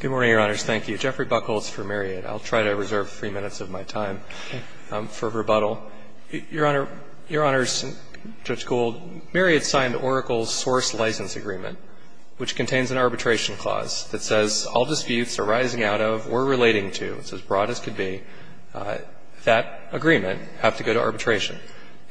Good morning, Your Honors. Thank you. Jeffrey Buchholz for Myriad. I'll try to reserve three minutes of my time for rebuttal. Your Honor, Your Honors, Judge Gould, Myriad signed Oracle's source license agreement, which contains an arbitration clause that says all disputes arising out of or relating to, as broad as could be, that agreement have to go to arbitration.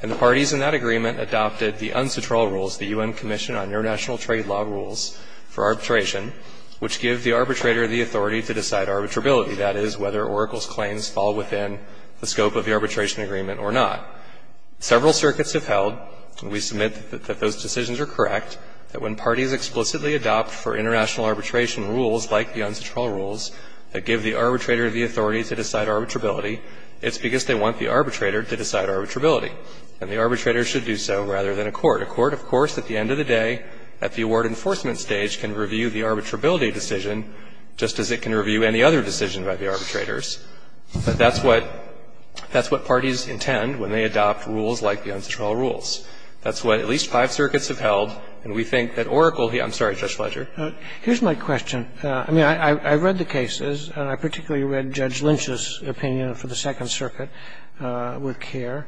And the parties in that agreement adopted the UNCTRL rules, the UN Commission on International Trade Law rules for arbitration, which give the arbitrator the authority to decide arbitrability. That is, whether Oracle's claims fall within the scope of the arbitration agreement or not. Several circuits have held, and we submit that those decisions are correct, that when parties explicitly adopt for international arbitration rules like the UNCTRL rules that give the arbitrator the authority to decide arbitrability, it's because they want the arbitrator to decide arbitrability. And the arbitrator should do so rather than a court. A court, of course, at the end of the day, at the award enforcement stage, can review the arbitrability decision just as it can review any other decision by the arbitrators. But that's what parties intend when they adopt rules like the UNCTRL rules. That's what at least five circuits have held, and we think that Oracle here — I'm sorry, Judge Fletcher. Here's my question. I mean, I read the cases, and I particularly read Judge Lynch's opinion for the Second Circuit with care.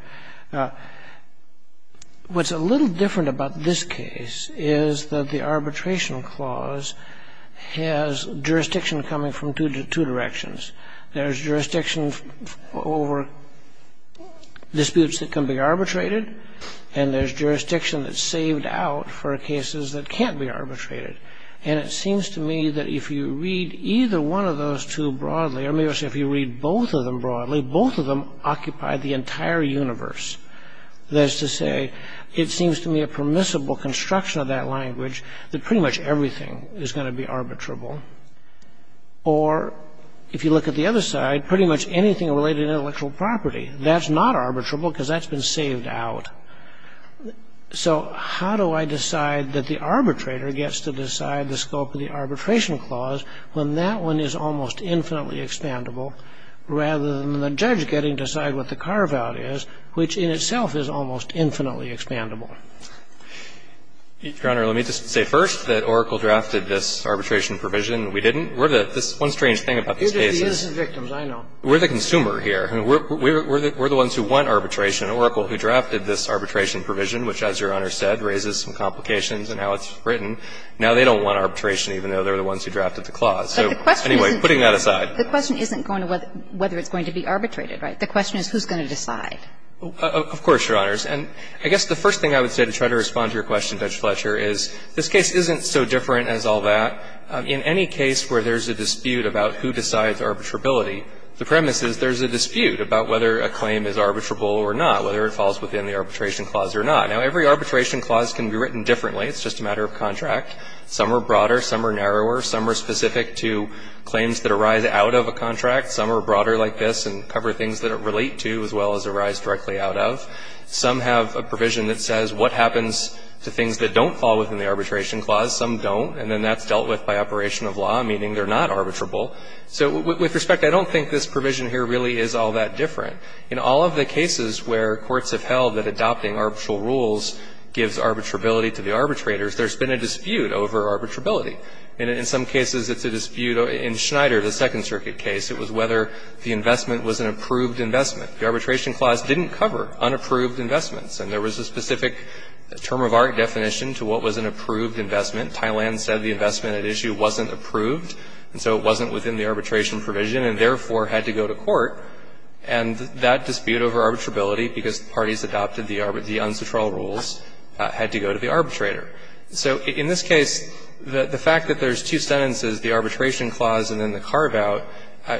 What's a little different about this case is that the arbitration clause has jurisdiction coming from two directions. There's jurisdiction over disputes that can be arbitrated, and there's jurisdiction that's saved out for cases that can't be arbitrated. And it seems to me that if you read either one of those two broadly — or maybe I should say, if you read both of them broadly, both of them occupy the entire universe. That is to say, it seems to me a permissible construction of that language that pretty much everything is going to be arbitrable. Or, if you look at the other side, pretty much anything related to intellectual property, that's not arbitrable because that's been saved out. So how do I decide that the arbitrator gets to decide the scope of the arbitration clause when that one is almost infinitely expandable rather than the judge getting to decide what the carve-out is, which in itself is almost infinitely expandable? Your Honor, let me just say first that Oracle drafted this arbitration provision. We didn't. We're the — this one strange thing about this case is — You're just the innocent victims, I know. We're the consumer here. I mean, we're the ones who want arbitration. Oracle, who drafted this arbitration provision, which, as Your Honor said, raises some complications in how it's written, now they don't want arbitration, even though they're the ones who drafted the clause. So anyway, putting that aside. But the question isn't going to whether it's going to be arbitrated, right? The question is who's going to decide. Of course, Your Honors. And I guess the first thing I would say to try to respond to your question, Judge Fletcher, is this case isn't so different as all that. In any case where there's a dispute about who decides arbitrability, the premise is there's a dispute about whether a claim is arbitrable or not, whether it falls within the arbitration clause or not. Now, every arbitration clause can be written differently. It's just a matter of contract. Some are broader. Some are narrower. Some are specific to claims that arise out of a contract. Some are broader like this and cover things that it relate to as well as arise directly out of. Some have a provision that says what happens to things that don't fall within the arbitration clause. Some don't. And then that's dealt with by operation of law, meaning they're not arbitrable. So with respect, I don't think this provision here really is all that different. In all of the cases where courts have held that adopting arbitral rules gives arbitrability to the arbitrators, there's been a dispute over arbitrability. And in some cases it's a dispute. In Schneider, the Second Circuit case, it was whether the investment was an approved investment. The arbitration clause didn't cover unapproved investments. And there was a specific term of art definition to what was an approved investment. Thailand said the investment at issue wasn't approved, and so it wasn't within the arbitration provision and therefore had to go to court. And that dispute over arbitrability, because the parties adopted the uncitralled rules, had to go to the arbitrator. So in this case, the fact that there's two sentences, the arbitration clause and then the carve-out,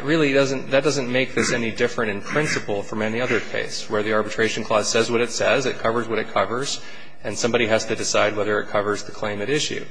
really doesn't — that doesn't make this any different in principle from any other case, where the arbitration clause says what it says, it covers what it covers, and somebody has to decide whether it covers the claim at issue.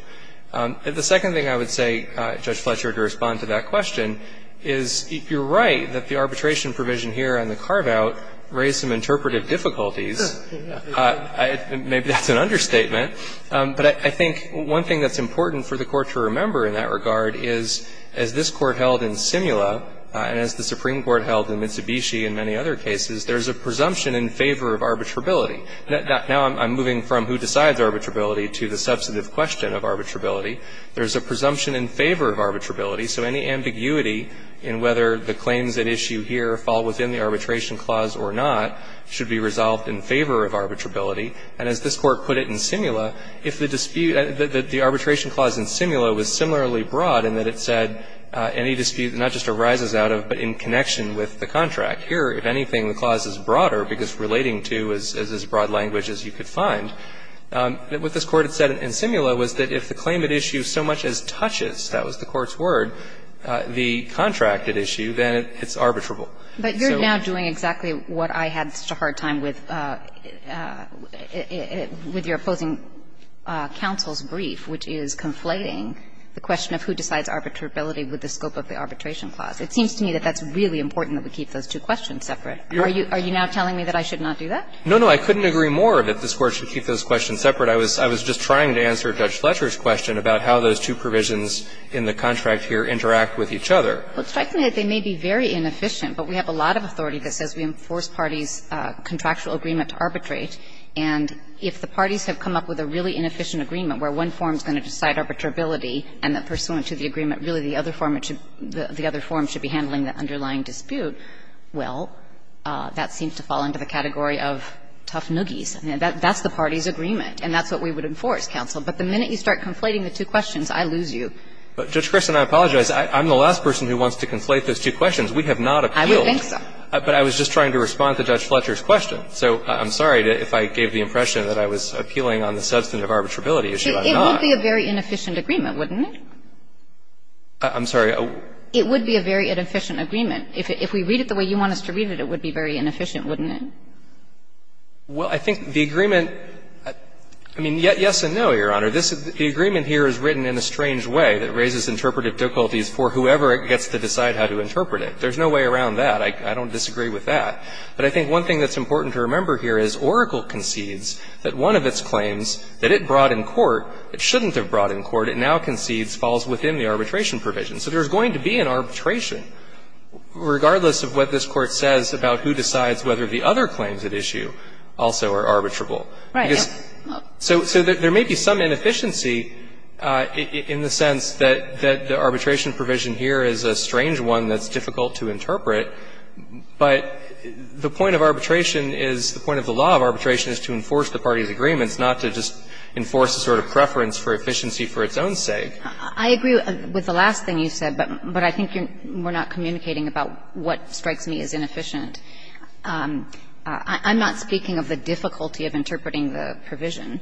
The second thing I would say, Judge Fletcher, to respond to that question is, you're right that the arbitration provision here and the carve-out raise some interpretive difficulties. Maybe that's an understatement. But I think one thing that's important for the Court to remember in that regard is, as this Court held in Simula, and as the Supreme Court held in Mitsubishi and many other cases, there's a presumption in favor of arbitrability. Now I'm moving from who decides arbitrability to the substantive question of arbitrability. There's a presumption in favor of arbitrability. So any ambiguity in whether the claims at issue here fall within the arbitration clause or not should be resolved in favor of arbitrability. And as this Court put it in Simula, if the dispute — the arbitration clause in Simula was similarly broad in that it said any dispute not just arises out of, but in connection with, the contract. Here, if anything, the clause is broader because relating to is as broad language as you could find. What this Court had said in Simula was that if the claim at issue so much as touches — that was the Court's word — the contract at issue, then it's arbitrable. But you're now doing exactly what I had such a hard time with, with your opposing counsel's brief, which is conflating the question of who decides arbitrability with the scope of the arbitration clause. It seems to me that that's really important that we keep those two questions separate. Are you now telling me that I should not do that? No, no. I couldn't agree more that this Court should keep those questions separate. I was just trying to answer Judge Fletcher's question about how those two provisions in the contract here interact with each other. Well, it strikes me that they may be very inefficient, but we have a lot of authority that says we enforce parties' contractual agreement to arbitrate, and if the parties have come up with a really inefficient agreement where one form is going to decide arbitrability and that pursuant to the agreement, really the other form should be handling the underlying dispute, well, that seems to fall into the category of tough noogies. That's the parties' agreement, and that's what we would enforce, counsel. But the minute you start conflating the two questions, I lose you. But, Judge Kressen, I apologize. I'm the last person who wants to conflate those two questions. We have not appealed. I would think so. But I was just trying to respond to Judge Fletcher's question. So I'm sorry if I gave the impression that I was appealing on the substantive arbitrability issue. I'm not. It would be a very inefficient agreement, wouldn't it? I'm sorry. It would be a very inefficient agreement. If we read it the way you want us to read it, it would be very inefficient, wouldn't it? Well, I think the agreement – I mean, yes and no, Your Honor. The agreement here is written in a strange way that raises interpretive difficulties for whoever gets to decide how to interpret it. There's no way around that. I don't disagree with that. But I think one thing that's important to remember here is Oracle concedes that one of its claims that it brought in court, it shouldn't have brought in court, it now concedes falls within the arbitration provision. So there's going to be an arbitration, regardless of what this Court says about who decides whether the other claims at issue also are arbitrable. Right. So there may be some inefficiency in the sense that the arbitration provision here is a strange one that's difficult to interpret, but the point of arbitration is – the point of the law of arbitration is to enforce the party's agreements, not to just enforce a sort of preference for efficiency for its own sake. I agree with the last thing you said, but I think we're not communicating about what strikes me as inefficient. I'm not speaking of the difficulty of interpreting the provision,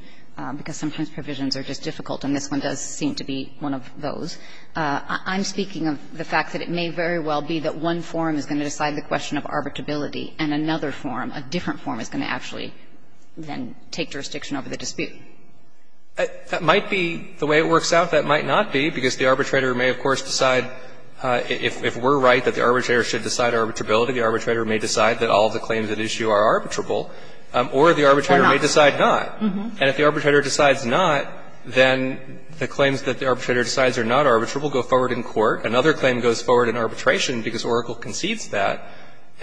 because sometimes provisions are just difficult, and this one does seem to be one of those. I'm speaking of the fact that it may very well be that one form is going to decide the question of arbitrability, and another form, a different form, is going to actually then take jurisdiction over the dispute. That might be the way it works out. That might not be, because the arbitrator may, of course, decide if we're right, that the arbitrator should decide arbitrability. The arbitrator may decide that all the claims at issue are arbitrable, or the arbitrator may decide not. And if the arbitrator decides not, then the claims that the arbitrator decides are not arbitrable go forward in court. Another claim goes forward in arbitration, because Oracle concedes that,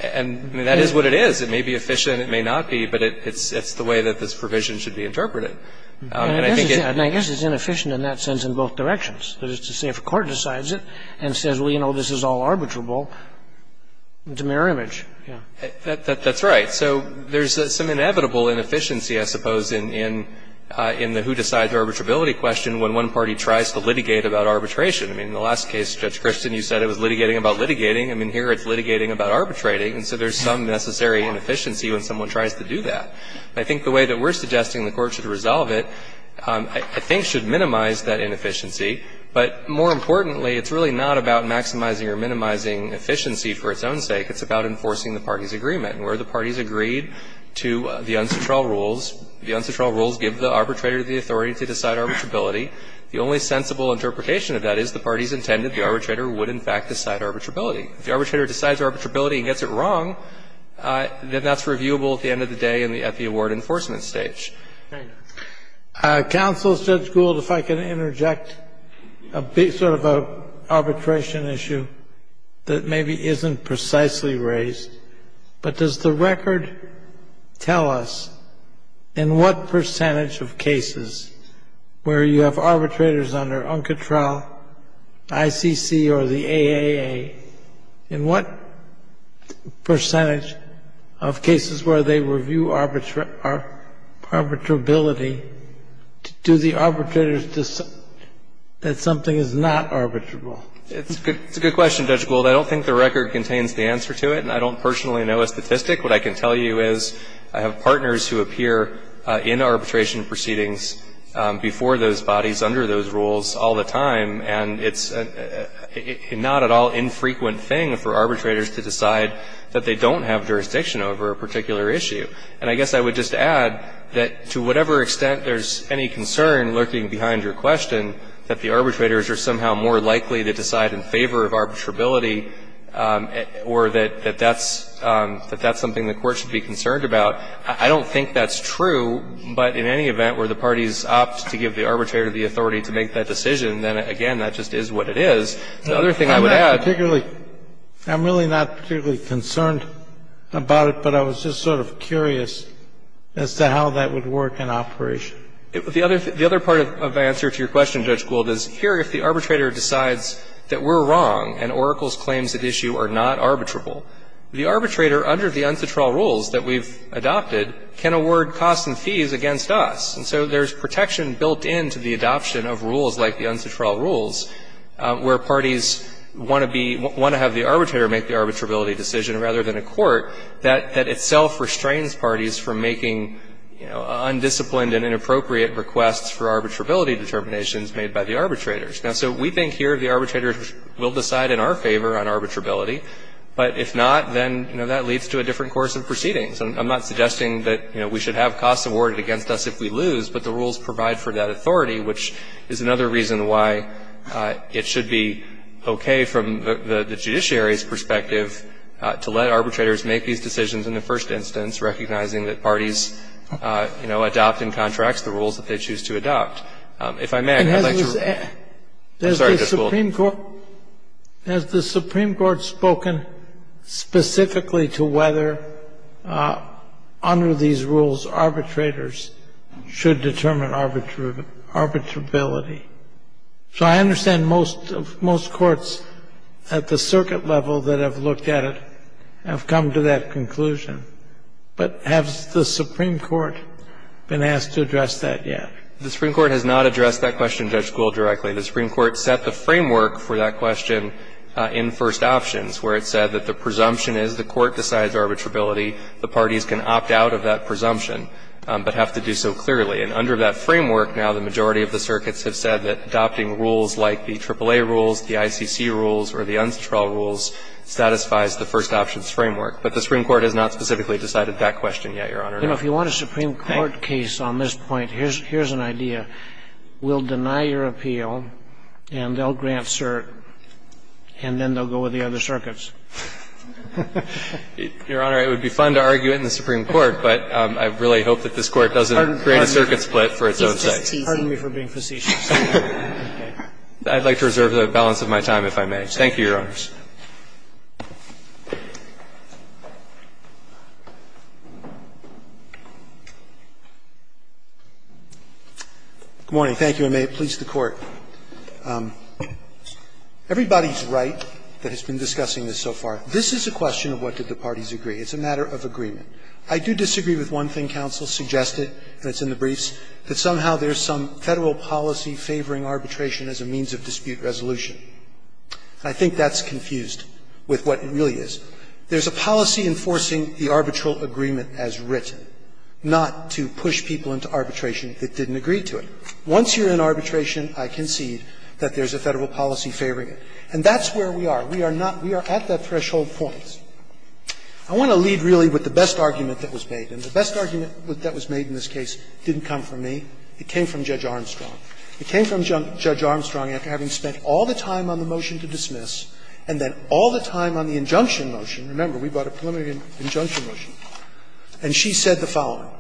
and that is what it is. It may be efficient, it may not be, but it's the way that this provision should be interpreted. And I think it's – And I guess it's inefficient in that sense in both directions. That is to say, if a court decides it and says, well, you know, this is all arbitrable, it's a mirror image. Yeah. That's right. So there's some inevitable inefficiency, I suppose, in the who decides arbitrability question when one party tries to litigate about arbitration. I mean, in the last case, Judge Christin, you said it was litigating about litigating. I mean, here it's litigating about arbitrating. And so there's some necessary inefficiency when someone tries to do that. I think the way that we're suggesting the court should resolve it, I think, should minimize that inefficiency, but more importantly, it's really not about maximizing or minimizing efficiency for its own sake. It's about enforcing the party's agreement. And where the parties agreed to the unctual rules, the unctual rules give the arbitrator the authority to decide arbitrability. The only sensible interpretation of that is the parties intended the arbitrator would, in fact, decide arbitrability. If the arbitrator decides arbitrability and gets it wrong, then that's reviewable at the end of the day and at the award enforcement stage. Counsel, Judge Gould, if I could interject a big sort of arbitration issue that maybe isn't precisely raised, but does the record tell us in what percentage of cases where you have arbitrators under UNCTRA, ICC, or the AAA, in what percentage of cases where they review arbitrability, do the arbitrators decide that something is not arbitrable? It's a good question, Judge Gould. I don't think the record contains the answer to it, and I don't personally know a statistic. What I can tell you is I have partners who appear in arbitration proceedings before those bodies, under those rules, all the time, and it's not at all infrequent thing for arbitrators to decide that they don't have jurisdiction over a particular issue. And I guess I would just add that to whatever extent there's any concern lurking behind your question that the arbitrators are somehow more likely to decide in favor of arbitrability or that that's something the Court should be concerned about, I don't think that's true. But in any event, where the parties opt to give the arbitrator the authority to make that decision, then, again, that just is what it is. The other thing I would add to that is I'm not particularly concerned about it, but I was just sort of curious as to how that would work in operation. The other part of my answer to your question, Judge Gould, is here if the arbitrator decides that we're wrong and Oracle's claims at issue are not arbitrable, the arbitrator, under the uncitral rules that we've adopted, can award costs and fees against us. And so there's protection built into the adoption of rules like the uncitral rules where parties want to be – want to have the arbitrator make the arbitrability decision rather than a court that itself restrains parties from making, you know, undisciplined and inappropriate requests for arbitrability determinations made by the arbitrators. Now, so we think here the arbitrators will decide in our favor on arbitrability, but if not, then, you know, that leads to a different course of proceedings. I'm not suggesting that, you know, we should have costs awarded against us if we lose, but the rules provide for that authority, which is another reason why it should be okay from the judiciary's perspective to let arbitrators make these decisions in the first instance, recognizing that parties, you know, adopt in contracts the rules that they choose to adopt. If I may, I'd like to – I'm sorry, Judge Gould. Sotomayor Has the Supreme Court spoken specifically to whether under these rules arbitrators should determine arbitrability? So I understand most – most courts at the circuit level that have looked at it have come to that conclusion, but has the Supreme Court been asked to address that yet? The Supreme Court has not addressed that question, Judge Gould, directly. The Supreme Court set the framework for that question in first options, where it said that the presumption is the court decides arbitrability, the parties can opt out of that presumption, but have to do so clearly. And under that framework now, the majority of the circuits have said that adopting rules like the AAA rules, the ICC rules, or the unconstitutional rules satisfies the first options framework. But the Supreme Court has not specifically decided that question yet, Your Honor. And if you want a Supreme Court case on this point, here's – here's an idea. We'll deny your appeal, and they'll grant cert, and then they'll go with the other circuits. Your Honor, it would be fun to argue it in the Supreme Court, but I really hope that this Court doesn't create a circuit split for its own sake. Pardon me for being facetious. I'd like to reserve the balance of my time, if I may. Thank you, Your Honors. Good morning. Thank you. And may it please the Court. Everybody's right that has been discussing this so far. This is a question of what did the parties agree. It's a matter of agreement. I do disagree with one thing counsel suggested, and it's in the briefs, that somehow there's some Federal policy favoring arbitration as a means of dispute resolution. I think that's confused with what it really is. There's a policy enforcing the arbitral agreement as written, not to push people into arbitration that didn't agree to it. Once you're in arbitration, I concede that there's a Federal policy favoring it. And that's where we are. We are not we are at that threshold point. I want to lead really with the best argument that was made, and the best argument that was made in this case didn't come from me. It came from Judge Armstrong. It came from Judge Armstrong after having spent all the time on the motion to dismiss and then all the time on the injunction motion. Remember, we brought a preliminary injunction motion. And she said the following,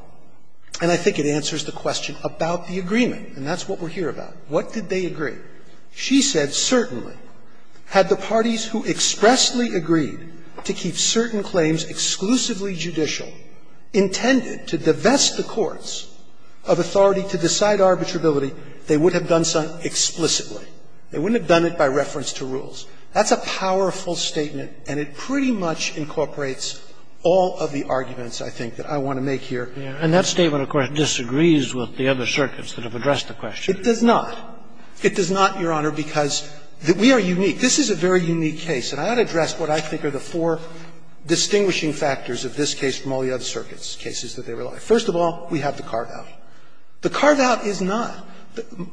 and I think it answers the question about the agreement. And that's what we're here about. What did they agree? She said, certainly, had the parties who expressly agreed to keep certain claims exclusively judicial, intended to divest the courts of authority to decide arbitrability, they would have done so explicitly. They wouldn't have done it by reference to rules. That's a powerful statement, and it pretty much incorporates all of the arguments, I think, that I want to make here. And that statement, of course, disagrees with the other circuits that have addressed the question. It does not. It does not, Your Honor, because we are unique. This is a very unique case, and I ought to address what I think are the four distinguishing factors of this case from all the other circuits' cases that they rely on. First of all, we have the carve-out. The carve-out is not.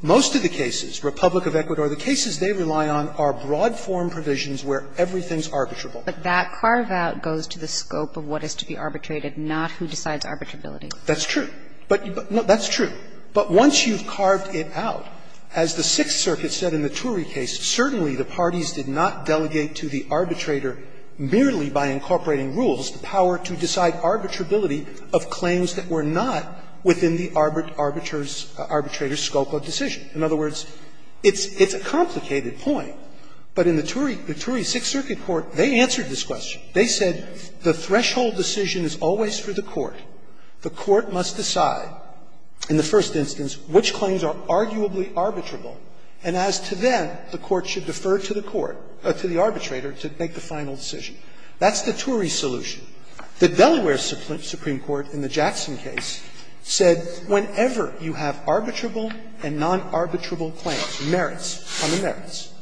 Most of the cases, Republic of Ecuador, the cases they rely on are broad form provisions where everything's arbitrable. But that carve-out goes to the scope of what is to be arbitrated, not who decides arbitrability. That's true. That's true. But once you've carved it out, as the Sixth Circuit said in the Turi case, certainly the parties did not delegate to the arbitrator merely by incorporating rules the power to decide arbitrability of claims that were not within the arbitrator's scope of decision. In other words, it's a complicated point. But in the Turi Sixth Circuit court, they answered this question. They said the threshold decision is always for the court. The court must decide, in the first instance, which claims are arguably arbitrable, and as to them, the court should defer to the court, to the arbitrator, to make the final decision. That's the Turi solution. The Delaware Supreme Court in the Jackson case said whenever you have arbitrable and non-arbitrable claims, merits on the merits,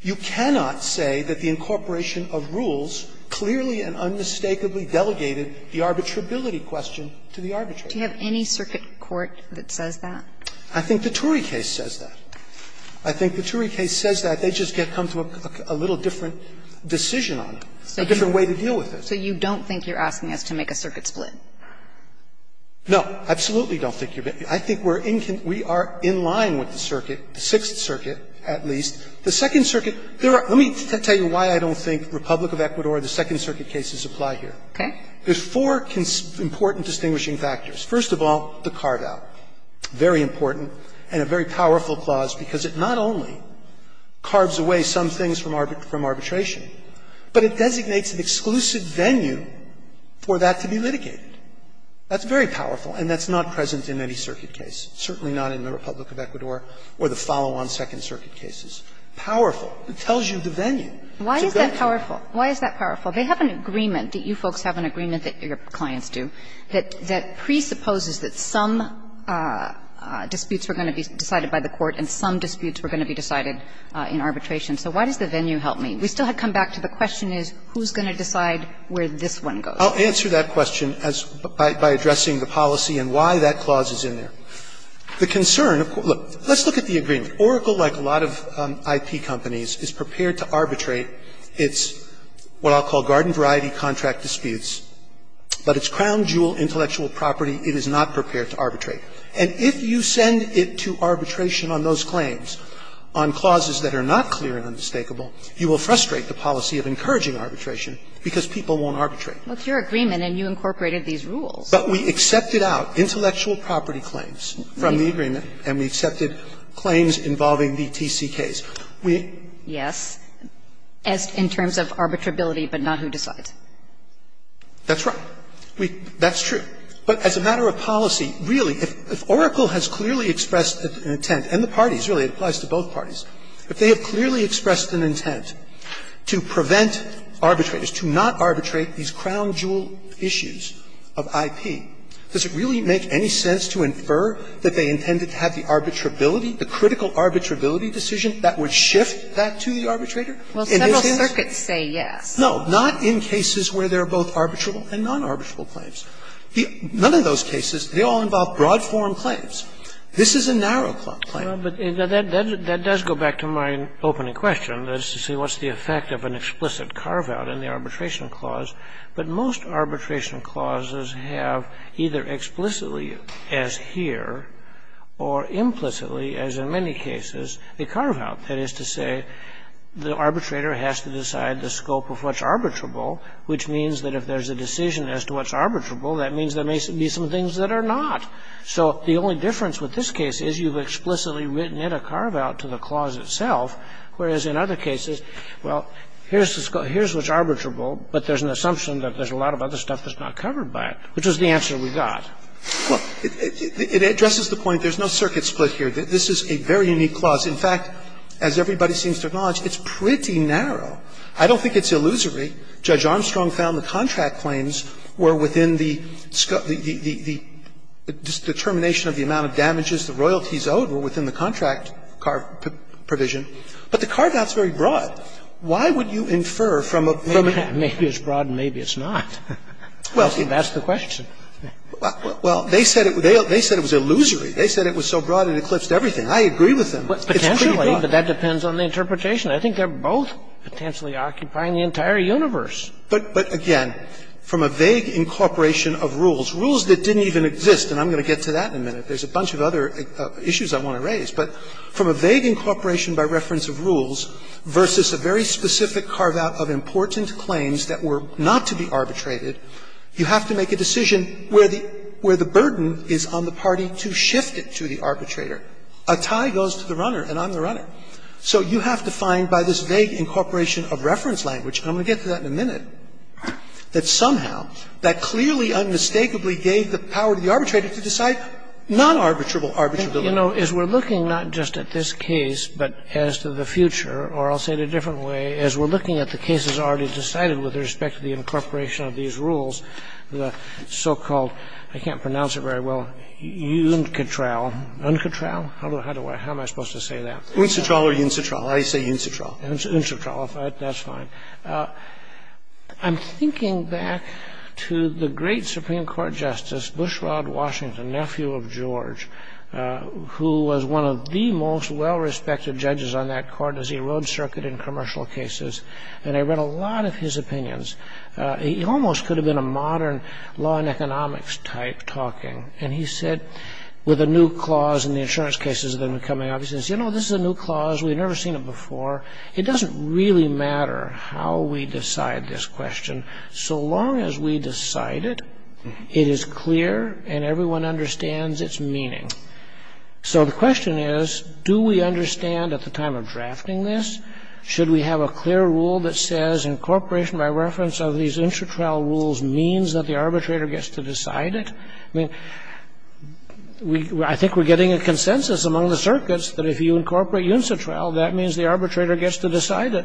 you cannot say that the incorporation of rules clearly and unmistakably delegated the arbitrability question to the arbitrator. Do you have any circuit court that says that? I think the Turi case says that. I think the Turi case says that. They just come to a little different decision on it, a different way to deal with it. So you don't think you're asking us to make a circuit split? No, I absolutely don't think you're going to. I think we are in line with the circuit, the Sixth Circuit at least. The Second Circuit, there are – let me tell you why I don't think Republic of Ecuador, the Second Circuit cases apply here. There are four important distinguishing factors. First of all, the carve-out, very important and a very powerful clause, because it not only carves away some things from arbitration, but it designates an exclusive venue for that to be litigated. That's very powerful, and that's not present in any circuit case, certainly not in the Republic of Ecuador or the follow-on Second Circuit cases. Powerful. It tells you the venue to go to. Why is that powerful? Why is that powerful? They have an agreement, you folks have an agreement that your clients do, that presupposes that some disputes were going to be decided by the court and some disputes were going to be decided in arbitration. So why does the venue help me? We still have to come back to the question is who's going to decide where this one goes? I'll answer that question by addressing the policy and why that clause is in there. The concern of court – look, let's look at the agreement. Oracle, like a lot of IP companies, is prepared to arbitrate its what I'll call garden variety contract disputes, but its crown jewel, intellectual property, it is not prepared to arbitrate. And if you send it to arbitration on those claims, on clauses that are not clear and undistakable, you will frustrate the policy of encouraging arbitration, because people won't arbitrate. Kagan, What's your agreement, and you incorporated these rules? But we accepted out intellectual property claims from the agreement and we accepted claims involving the TCKs. We – Yes. As in terms of arbitrability, but not who decides. That's right. We – that's true. But as a matter of policy, really, if Oracle has clearly expressed an intent, and the parties, really, it applies to both parties, if they have clearly expressed an intent to prevent arbitrators, to not arbitrate these crown jewel issues of IP, does it really make any sense to infer that they intended to have the arbitrability, the critical arbitrability decision, that would shift that to the arbitrator? In this case? Well, several circuits say yes. No. Not in cases where there are both arbitrable and non-arbitrable claims. None of those cases, they all involve broad-form claims. This is a narrow-claw claim. But that does go back to my opening question, that is to say, what's the effect of an explicit carve-out in the arbitration clause? But most arbitration clauses have either explicitly, as here, or implicitly, as in many cases, a carve-out, that is to say, the arbitrator has to decide the scope of what's arbitrable, which means that if there's a decision as to what's arbitrable, that means there may be some things that are not. So the only difference with this case is you've explicitly written in a carve-out to the clause itself, whereas in other cases, well, here's the scope, here's what's arbitrable, but there's an assumption that there's a lot of other stuff that's not covered by it, which is the answer we got. Look, it addresses the point there's no circuit split here. This is a very unique clause. In fact, as everybody seems to acknowledge, it's pretty narrow. I don't think it's illusory. In the case of the Royalty, Judge Armstrong found the contract claims were within the determination of the amount of damages the royalties owed were within the contract provision, but the carve-out is very broad. Why would you infer from a permit? Maybe it's broad and maybe it's not. That's the question. Well, they said it was illusory. They said it was so broad it eclipsed everything. I agree with them. It's pretty broad. Potentially, but that depends on the interpretation. I think they're both potentially occupying the entire universe. But, again, from a vague incorporation of rules, rules that didn't even exist, and I'm going to get to that in a minute. There's a bunch of other issues I want to raise, but from a vague incorporation by reference of rules versus a very specific carve-out of important claims that were not to be arbitrated, you have to make a decision where the burden is on the party to shift it to the arbitrator. A tie goes to the runner, and I'm the runner. So you have to find, by this vague incorporation of reference language, and I'm going to get to that in a minute, that somehow, that clearly, unmistakably gave the power to the arbitrator to decide non-arbitrable arbitrability. You know, as we're looking not just at this case, but as to the future, or I'll say it a different way, as we're looking at the cases already decided with respect to the incorporation of these rules, the so-called, I can't pronounce it very well, UNCTRAL, UNCTRAL, how do I, how am I supposed to say that? UNCTRAL or UNCTRAL? I say UNCTRAL. Unctral, that's fine. I'm thinking back to the great Supreme Court Justice, Bushrod Washington, nephew of George, who was one of the most well-respected judges on that court as he rode circuit in commercial cases, and I read a lot of his opinions. He almost could have been a modern law and economics type talking, and he said with a new clause in the insurance cases that have been coming out, he says, you know, this is a new clause, we've never seen it before. It doesn't really matter how we decide this question, so long as we decide it, it is clear and everyone understands its meaning. So the question is, do we understand at the time of drafting this? Should we have a clear rule that says incorporation by reference of these I think we're getting a consensus among the circuits that if you incorporate UNCTRAL, that means the arbitrator gets to decide it.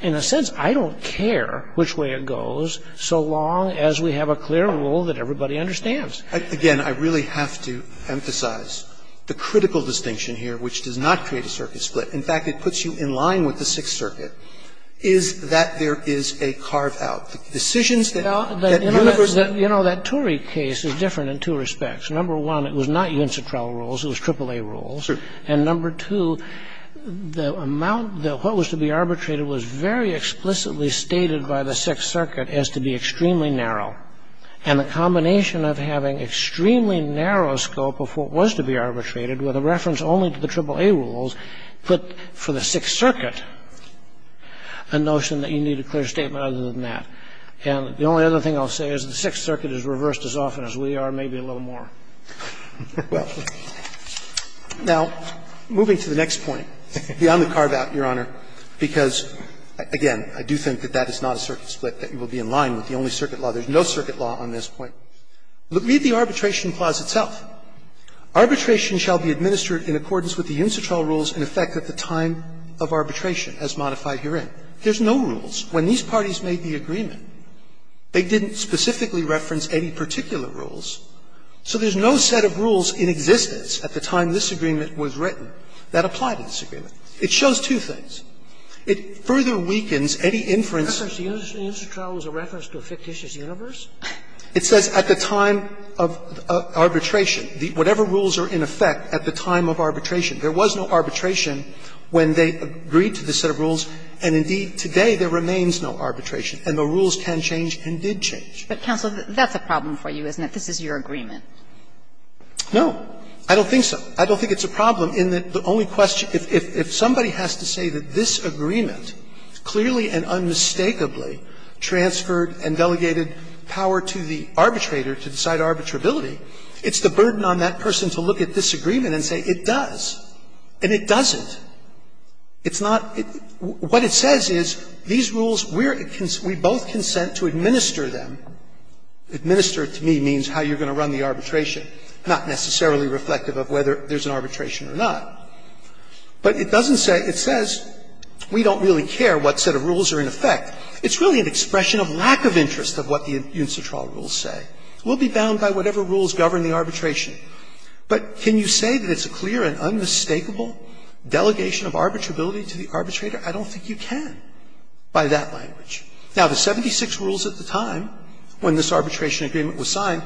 In a sense, I don't care which way it goes, so long as we have a clear rule that everybody understands. Again, I really have to emphasize the critical distinction here, which does not create a circuit split. In fact, it puts you in line with the Sixth Circuit, is that there is a carve out. Decisions that, you know, that Turing case is different in two respects. Number one, it was not UNCTRAL rules, it was AAA rules. And number two, the amount that what was to be arbitrated was very explicitly stated by the Sixth Circuit as to be extremely narrow. And the combination of having extremely narrow scope of what was to be arbitrated with a reference only to the AAA rules put for the Sixth Circuit a notion that you need a clear statement other than that. And the only other thing I'll say is the Sixth Circuit is reversed as often as we are, but maybe a little more. Robertson Now, moving to the next point, beyond the carve out, Your Honor, because, again, I do think that that is not a circuit split, that you will be in line with the only circuit law. There is no circuit law on this point. Read the arbitration clause itself. Arbitration shall be administered in accordance with the UNCTRAL rules in effect at the time of arbitration, as modified herein. There's no rules. When these parties made the agreement, they didn't specifically reference any particular set of rules. So there's no set of rules in existence at the time this agreement was written that apply to this agreement. It shows two things. It further weakens any inference. Scalia The UNCTRAL was a reference to a fictitious universe? Robertson It says at the time of arbitration. Whatever rules are in effect at the time of arbitration. There was no arbitration when they agreed to the set of rules, and indeed today there remains no arbitration. And the rules can change and did change. Kagan But, counsel, that's a problem for you, isn't it? This is your agreement. Roberts No. I don't think so. I don't think it's a problem in that the only question – if somebody has to say that this agreement clearly and unmistakably transferred and delegated power to the arbitrator to decide arbitrability, it's the burden on that person to look at this agreement and say it does, and it doesn't. It's not – what it says is these rules, we're – we both consent to administer them. Administer to me means how you're going to run the arbitration, not necessarily reflective of whether there's an arbitration or not. But it doesn't say – it says we don't really care what set of rules are in effect. It's really an expression of lack of interest of what the UNCTRAL rules say. We'll be bound by whatever rules govern the arbitration. But can you say that it's a clear and unmistakable delegation of arbitrability to the arbitrator? I don't think you can by that language. Now, the 76 rules at the time, when this arbitration agreement was signed,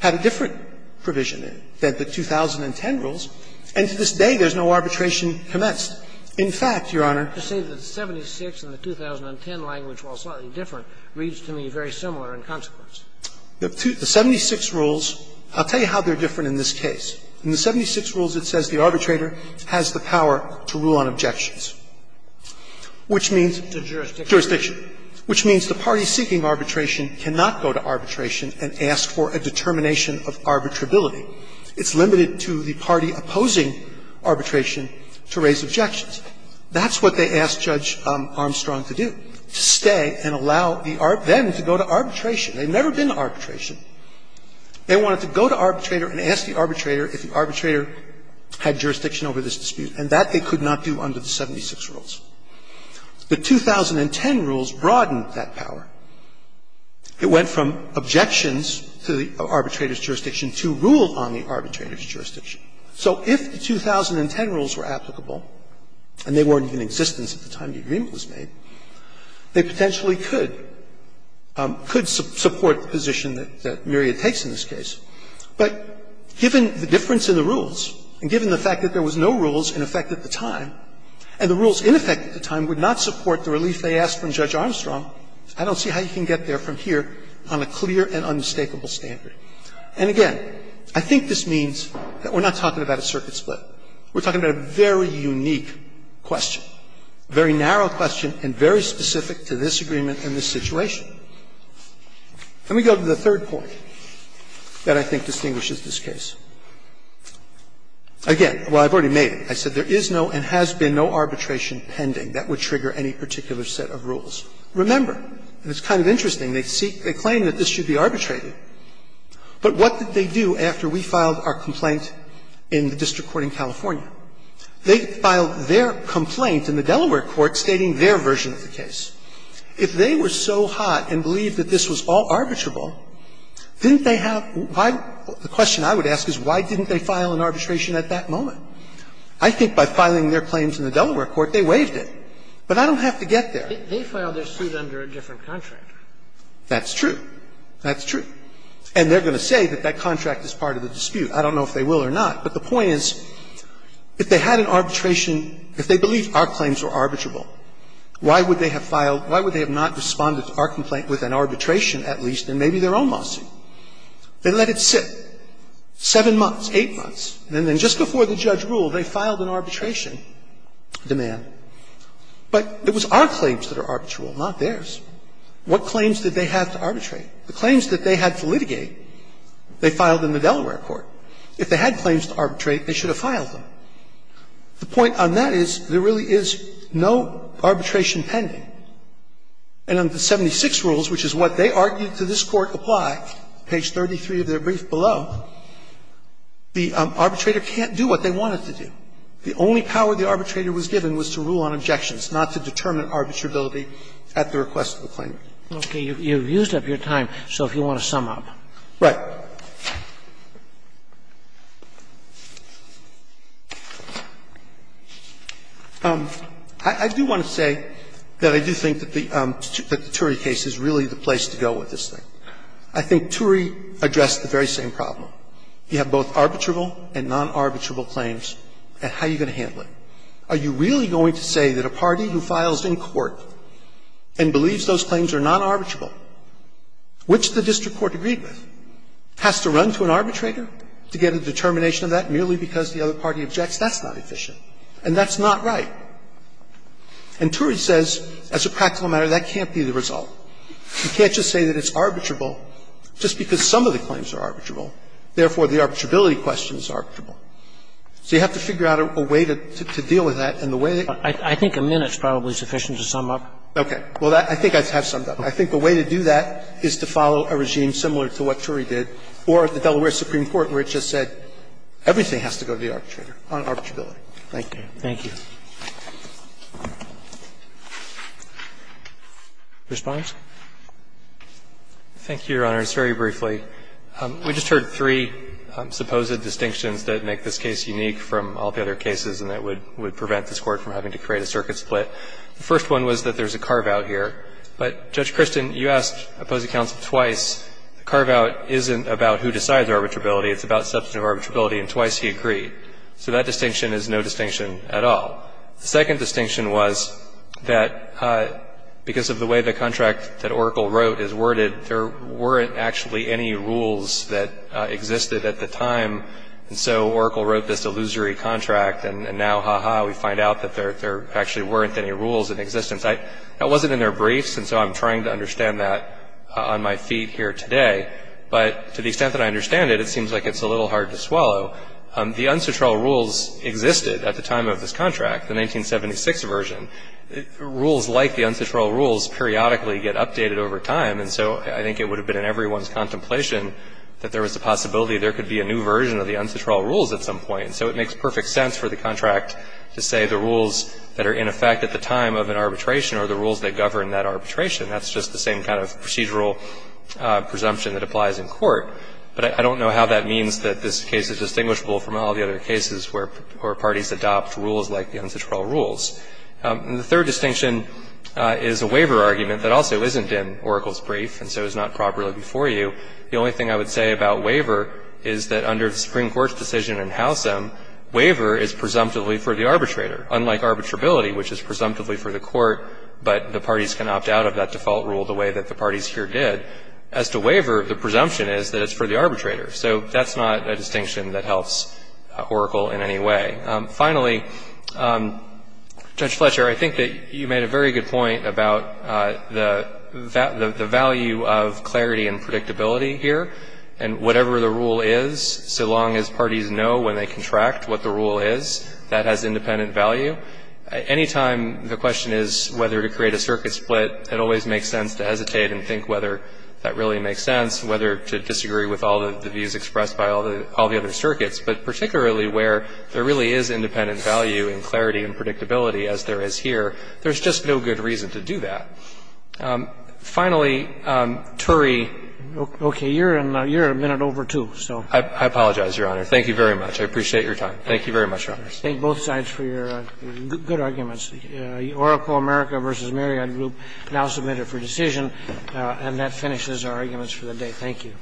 had a different provision than the 2010 rules, and to this day there's no arbitration commenced. In fact, Your Honor, To say that the 76 and the 2010 language, while slightly different, reads to me very similar in consequence. The 76 rules – I'll tell you how they're different in this case. In the 76 rules, it says the arbitrator has the power to rule on objections, which means To jurisdiction. Which means the party seeking arbitration cannot go to arbitration and ask for a determination of arbitrability. It's limited to the party opposing arbitration to raise objections. That's what they asked Judge Armstrong to do, to stay and allow the – them to go to arbitration. They've never been to arbitration. They wanted to go to arbitrator and ask the arbitrator if the arbitrator had jurisdiction over this dispute, and that they could not do under the 76 rules. The 2010 rules broadened that power. It went from objections to the arbitrator's jurisdiction to rule on the arbitrator's jurisdiction. So if the 2010 rules were applicable, and they weren't even in existence at the time the agreement was made, they potentially could – could support the position that Myriad takes in this case. But given the difference in the rules, and given the fact that there was no rules in effect at the time, and the rules in effect at the time would not support the relief they asked from Judge Armstrong, I don't see how you can get there from here on a clear and unmistakable standard. And again, I think this means that we're not talking about a circuit split. We're talking about a very unique question, a very narrow question, and very specific to this agreement and this situation. Let me go to the third point that I think distinguishes this case. Again, while I've already made it, I said there is no and has been no arbitration pending that would trigger any particular set of rules. Remember, and it's kind of interesting, they claim that this should be arbitrated, but what did they do after we filed our complaint in the district court in California? They filed their complaint in the Delaware court stating their version of the case. If they were so hot and believed that this was all arbitrable, didn't they have Why the question I would ask is why didn't they file an arbitration at that moment? I think by filing their claims in the Delaware court, they waived it. But I don't have to get there. They filed their suit under a different contract. That's true. That's true. And they're going to say that that contract is part of the dispute. I don't know if they will or not, but the point is, if they had an arbitration – if they believed our claims were arbitrable, why would they have filed – why would they have not responded to our complaint with an arbitration, at least, and they let it sit, 7 months, 8 months, and then just before the judge ruled, they filed an arbitration demand. But it was our claims that are arbitrable, not theirs. What claims did they have to arbitrate? The claims that they had to litigate, they filed in the Delaware court. If they had claims to arbitrate, they should have filed them. The point on that is there really is no arbitration pending. And under the 76 rules, which is what they argued to this Court apply, page 33 of their brief below, the arbitrator can't do what they want it to do. The only power the arbitrator was given was to rule on objections, not to determine arbitrability at the request of the claimant. Okay. You've used up your time, so if you want to sum up. Right. I do want to say that I do think that the Ture case is really the place to go with this thing. I think Ture addressed the very same problem. You have both arbitrable and non-arbitrable claims, and how are you going to handle it? Are you really going to say that a party who files in court and believes those claims are non-arbitrable, which the district court agreed with, has to run to an arbitrator to get a determination of that merely because the other party objects? That's not efficient, and that's not right. And Ture says, as a practical matter, that can't be the result. You can't just say that it's arbitrable just because some of the claims are arbitrable, therefore, the arbitrability question is arbitrable. So you have to figure out a way to deal with that, and the way that you can do that is to follow a regime similar to what Ture did, or the Delaware Supreme Court, where it just said everything has to go to the arbitrator on arbitrability. Thank you. Thank you. Mr. Barnes. Thank you, Your Honors. Very briefly, we just heard three supposed distinctions that make this case unique from all the other cases and that would prevent this Court from having to create a circuit split. The first one was that there's a carve-out here. But, Judge Kristin, you asked opposing counsel twice. The carve-out isn't about who decides arbitrability. It's about substantive arbitrability, and twice he agreed. So that distinction is no distinction at all. The second distinction was that because of the way the contract that Oracle wrote is worded, there weren't actually any rules that existed at the time, and so Oracle wrote this illusory contract, and now, ha-ha, we find out that there actually weren't any rules in existence. That wasn't in their briefs, and so I'm trying to understand that on my feet here today, but to the extent that I understand it, it seems like it's a little hard to swallow. The un-satural rules existed at the time of this contract, the 1976 version. Rules like the un-satural rules periodically get updated over time, and so I think it would have been in everyone's contemplation that there was a possibility there could be a new version of the un-satural rules at some point. So it makes perfect sense for the contract to say the rules that are in effect at the time of an arbitration are the rules that govern that arbitration. That's just the same kind of procedural presumption that applies in court. But I don't know how that means that this case is distinguishable from all the other cases where parties adopt rules like the un-satural rules. And the third distinction is a waiver argument that also isn't in Oracle's brief, and so is not properly before you. The only thing I would say about waiver is that under the Supreme Court's decision in Howsam, waiver is presumptively for the arbitrator. Unlike arbitrability, which is presumptively for the court, but the parties can opt out of that default rule the way that the parties here did. As to waiver, the presumption is that it's for the arbitrator. So that's not a distinction that helps Oracle in any way. Finally, Judge Fletcher, I think that you made a very good point about the value of clarity and predictability here. And whatever the rule is, so long as parties know when they contract what the rule is, that has independent value. Anytime the question is whether to create a circuit split, it always makes sense to hesitate and think whether that really makes sense, whether to disagree with all the views expressed by all the other circuits. But particularly where there really is independent value in clarity and predictability, as there is here, there's just no good reason to do that. Finally, Turey. Okay. You're a minute over, too, so. I apologize, Your Honor. Thank you very much. I appreciate your time. Thank you very much, Your Honor. Thank both sides for your good arguments. The Oracle America v. Marriott Group now submitted for decision. And that finishes our arguments for the day. Thank you.